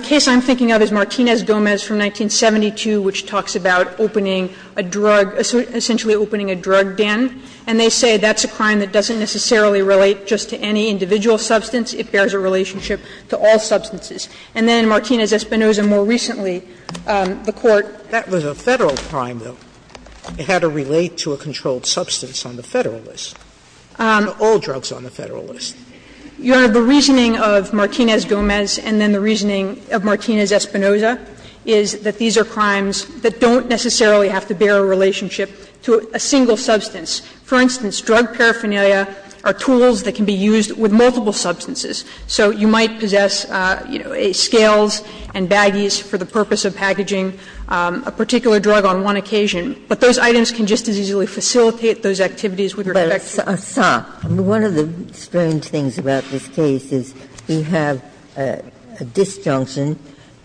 case I'm thinking of is Martinez-Gomez from 1972, which talks about opening a drug, essentially opening a drug den. And they say that's a crime that doesn't necessarily relate just to any individual substance. It bears a relationship to all substances. And then in Martinez-Espinosa more recently, the Court was a federal crime, though. It had to relate to a controlled substance on the Federal list, all drugs on the Federal list. Your Honor, the reasoning of Martinez-Gomez and then the reasoning of Martinez-Espinosa is that these are crimes that don't necessarily have to bear a relationship to a single substance. For instance, drug paraphernalia are tools that can be used with multiple substances. So you might possess, you know, scales and baggies for the purpose of packaging a particular drug on one occasion. But those items can just as easily facilitate those activities with respect to other substances. Ginsburg-Miller But Assaf, I mean, one of the strange things about this case is you have a disjunction.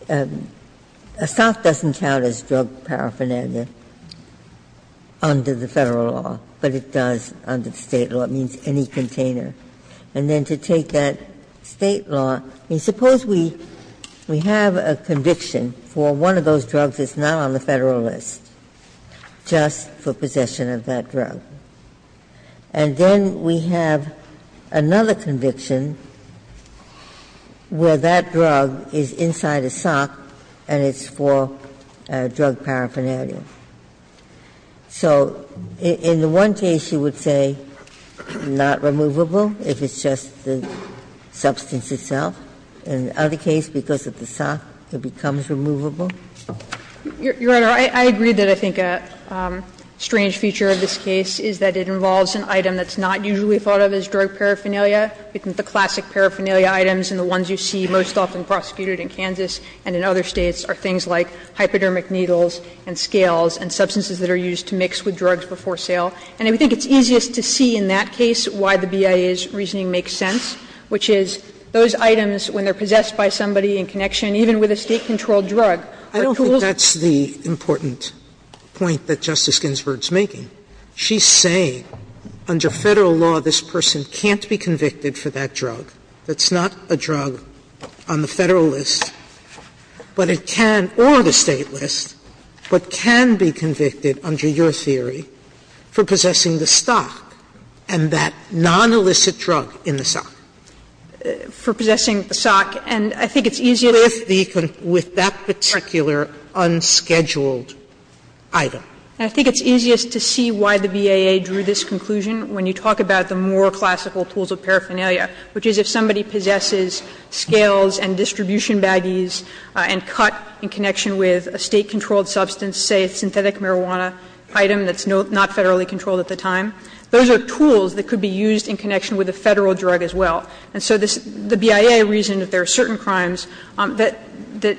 Assaf doesn't count as drug paraphernalia under the Federal law, but it does under the State law. It means any container. And then to take that State law, I mean, suppose we have a conviction for one of those drugs that's not on the Federal list just for possession of that drug. And then we have another conviction where that drug is inside a container, and it's inside a sock, and it's for drug paraphernalia. So in the one case, you would say not removable, if it's just the substance itself. In the other case, because of the sock, it becomes removable? Kagan Your Honor, I agree that I think a strange feature of this case is that it involves an item that's not usually thought of as drug paraphernalia, the classic paraphernalia items, and the ones you see most often prosecuted in Kansas and in other States are things like hypodermic needles and scales and substances that are used to mix with drugs before sale. And I think it's easiest to see in that case why the BIA's reasoning makes sense, which is those items, when they're possessed by somebody in connection, even with a State-controlled drug, are tools. Sotomayor I don't think that's the important point that Justice Ginsburg is making. She's saying under Federal law, this person can't be convicted for that drug that's not a drug on the Federal list, but it can, or the State list, but can be convicted under your theory for possessing the stock and that non-illicit drug in the sock. Kagan For possessing the sock, and I think it's easier to see that in the case of the drug. Sotomayor With that particular unscheduled item. And I think it's easiest to see why the BIA drew this conclusion when you talk about the more classical tools of paraphernalia, which is if somebody possesses scales and distribution baggies and cut in connection with a State-controlled substance, say a synthetic marijuana item that's not Federally controlled at the time, those are tools that could be used in connection with a Federal drug as well. And so the BIA reasoned that there are certain crimes that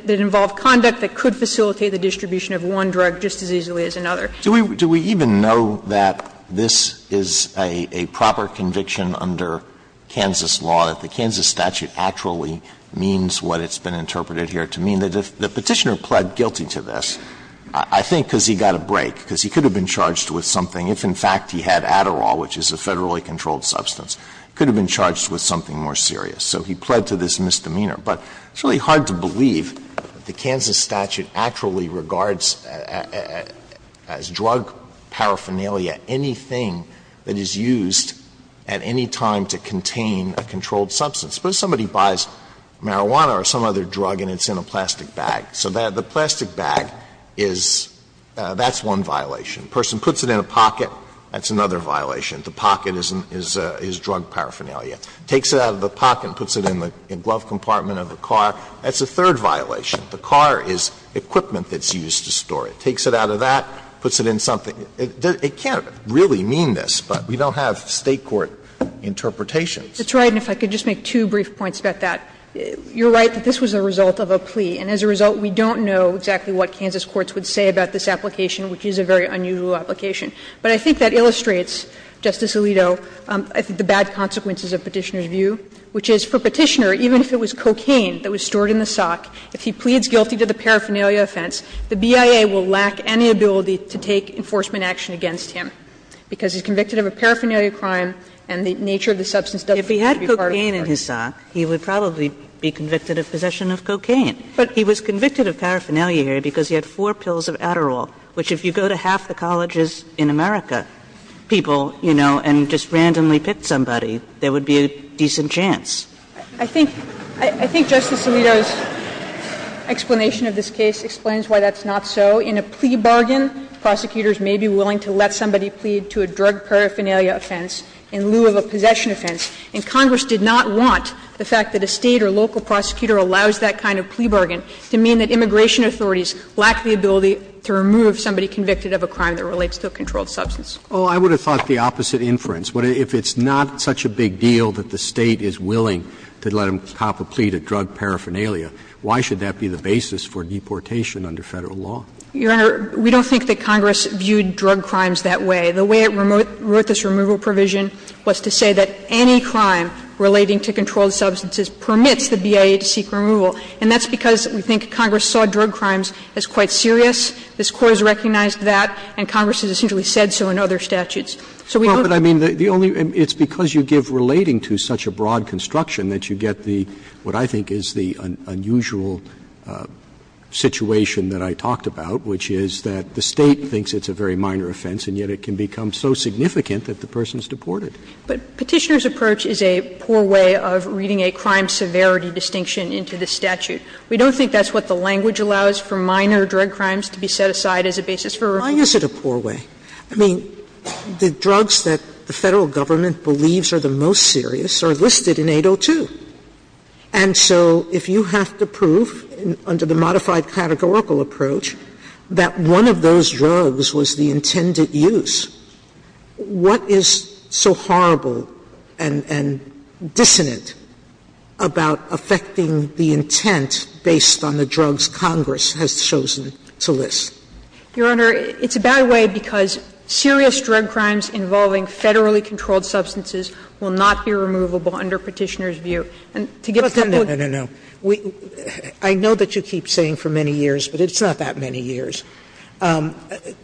involve conduct that could facilitate the distribution of one drug just as easily as another. Alito Do we even know that this is a proper conviction under Kansas law, that the Kansas statute actually means what it's been interpreted here to mean? The Petitioner pled guilty to this, I think because he got a break, because he could have been charged with something if, in fact, he had Adderall, which is a Federally controlled substance. He could have been charged with something more serious. So he pled to this misdemeanor. But it's really hard to believe that the Kansas statute actually regards as drug paraphernalia anything that is used at any time to contain a controlled substance. Suppose somebody buys marijuana or some other drug and it's in a plastic bag. So the plastic bag is one violation. A person puts it in a pocket, that's another violation. The pocket is drug paraphernalia. Takes it out of the pocket and puts it in the glove compartment of the car, that's a third violation. The car is equipment that's used to store it. Takes it out of that, puts it in something. It can't really mean this, but we don't have State court interpretations. That's right. And if I could just make two brief points about that. You're right that this was a result of a plea. And as a result, we don't know exactly what Kansas courts would say about this application, which is a very unusual application. But I think that illustrates, Justice Alito, I think the bad consequences of Petitioner's view, which is for Petitioner, even if it was cocaine that was stored in the sock, if he pleads guilty to the paraphernalia offense, the BIA will lack any ability to take enforcement action against him because he's convicted of a paraphernalia crime and the nature of the substance doesn't seem to be part of the crime. Kagan in his sock, he would probably be convicted of possession of cocaine. But he was convicted of paraphernalia because he had four pills of Adderall, which if you go to half the colleges in America, people, you know, and just randomly pick somebody, there would be a decent chance. I think Justice Alito's explanation of this case explains why that's not so. In a plea bargain, prosecutors may be willing to let somebody plead to a drug paraphernalia offense in lieu of a possession offense. And Congress did not want the fact that a State or local prosecutor allows that kind of plea bargain to mean that immigration authorities lack the ability to remove somebody convicted of a crime that relates to a controlled substance. Roberts, I would have thought the opposite inference. If it's not such a big deal that the State is willing to let him top a plea to drug paraphernalia, why should that be the basis for deportation under Federal law? Your Honor, we don't think that Congress viewed drug crimes that way. The way it wrote this removal provision was to say that any crime relating to controlled substances permits the BIA to seek removal. And that's because we think Congress saw drug crimes as quite serious. This Court has recognized that, and Congress has essentially said so in other statutes. So we don't think that's the case. Roberts, I mean, the only – it's because you give relating to such a broad construction that you get the, what I think is the unusual situation that I talked about, which is that the State thinks it's a very minor offense, and yet it can become so significant that the person's deported. But Petitioner's approach is a poor way of reading a crime severity distinction into the statute. We don't think that's what the language allows for minor drug crimes to be set aside as a basis for removal. Why is it a poor way? I mean, the drugs that the Federal Government believes are the most serious are listed in 802. And so if you have to prove under the modified categorical approach that one of those drugs was the intended use, what is so horrible and dissonant about affecting the intent based on the drugs Congress has chosen to list? Your Honor, it's a bad way because serious drug crimes involving Federally controlled substances will not be removable under Petitioner's view. And to give a couple of the reasons why I'm saying that, I think it's a bad way. Sotomayor, I know that you keep saying for many years, but it's not that many years. The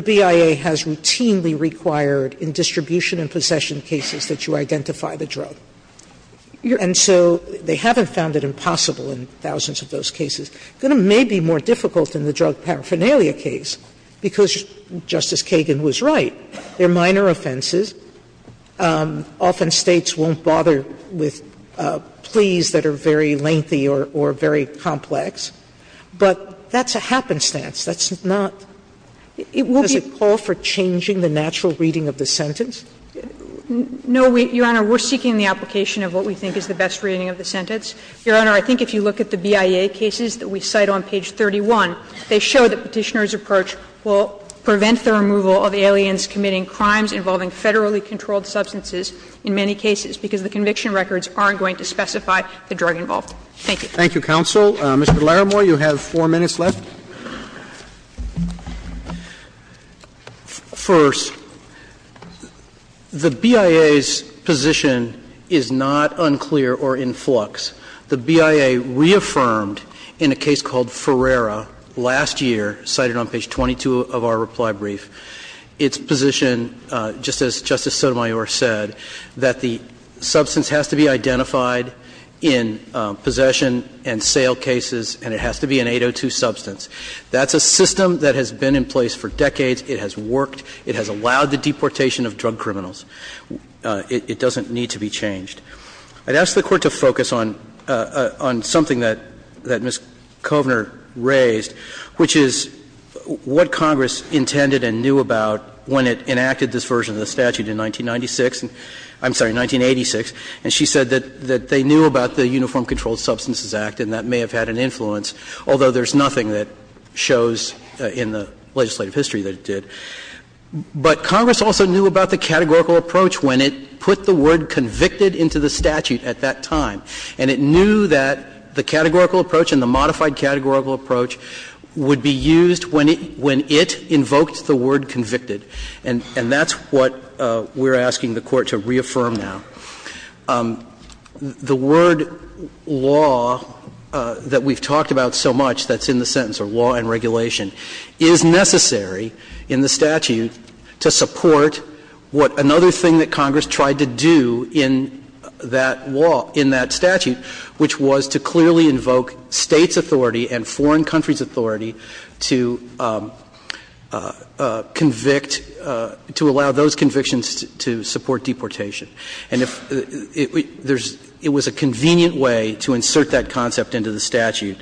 BIA has routinely required in distribution and possession cases that you identify the drug. And so they haven't found it impossible in thousands of those cases. It may be more difficult in the drug paraphernalia case because Justice Kagan was right. There are minor offenses. Often States won't bother with pleas that are very lengthy or very complex. But that's a happenstance. That's not – does it call for changing the natural reading of the sentence? No, Your Honor. We're seeking the application of what we think is the best reading of the sentence. Your Honor, I think if you look at the BIA cases that we cite on page 31, they show that Petitioner's approach will prevent the removal of aliens committing crimes involving Federally controlled substances in many cases, because the conviction records aren't going to specify the drug involved. Thank you. Roberts, Thank you, counsel. Mr. Laramore, you have four minutes left. First, the BIA's position is not unclear or in flux. The BIA reaffirmed in a case called Ferrara last year, cited on page 22 of our reply brief, its position, just as Justice Sotomayor said, that the substance has to be identified in possession and sale cases, and it has to be an 802 substance. That's a system that has been in place for decades. It has worked. It has allowed the deportation of drug criminals. It doesn't need to be changed. I'd ask the Court to focus on something that Ms. Kovner raised, which is what Congress intended and knew about when it enacted this version of the statute in 1996 – I'm He said that they knew about the Uniform Controlled Substances Act, and that may have had an influence, although there's nothing that shows in the legislative history that it did. But Congress also knew about the categorical approach when it put the word convicted into the statute at that time. And it knew that the categorical approach and the modified categorical approach would be used when it invoked the word convicted. And that's what we're asking the Court to reaffirm now. The word law that we've talked about so much that's in the sentence, or law and regulation, is necessary in the statute to support what another thing that Congress tried to do in that law, in that statute, which was to clearly invoke States' authority and foreign countries' authority to convict, to allow those convictions to support deportation. And if there's – it was a convenient way to insert that concept into the statute.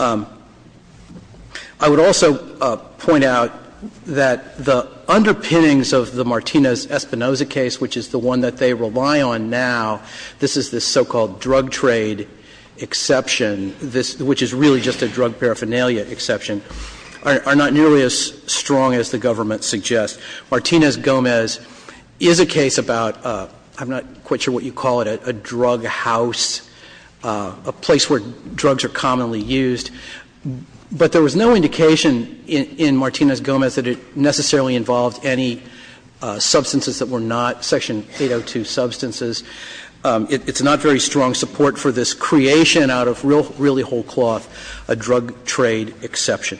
I would also point out that the underpinnings of the Martinez-Espinoza case, which is the one that they rely on now, this is the so-called drug trade exception, this – which is really just a drug paraphernalia exception, are not nearly as strong as the government suggests. Martinez-Gomez is a case about – I'm not quite sure what you call it, a drug house, a place where drugs are commonly used. But there was no indication in Martinez-Gomez that it necessarily involved any substances that were not Section 802 substances. It's not very strong support for this creation out of really whole cloth a drug trade exception.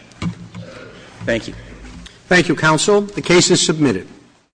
Thank you. Roberts. Thank you, counsel. The case is submitted.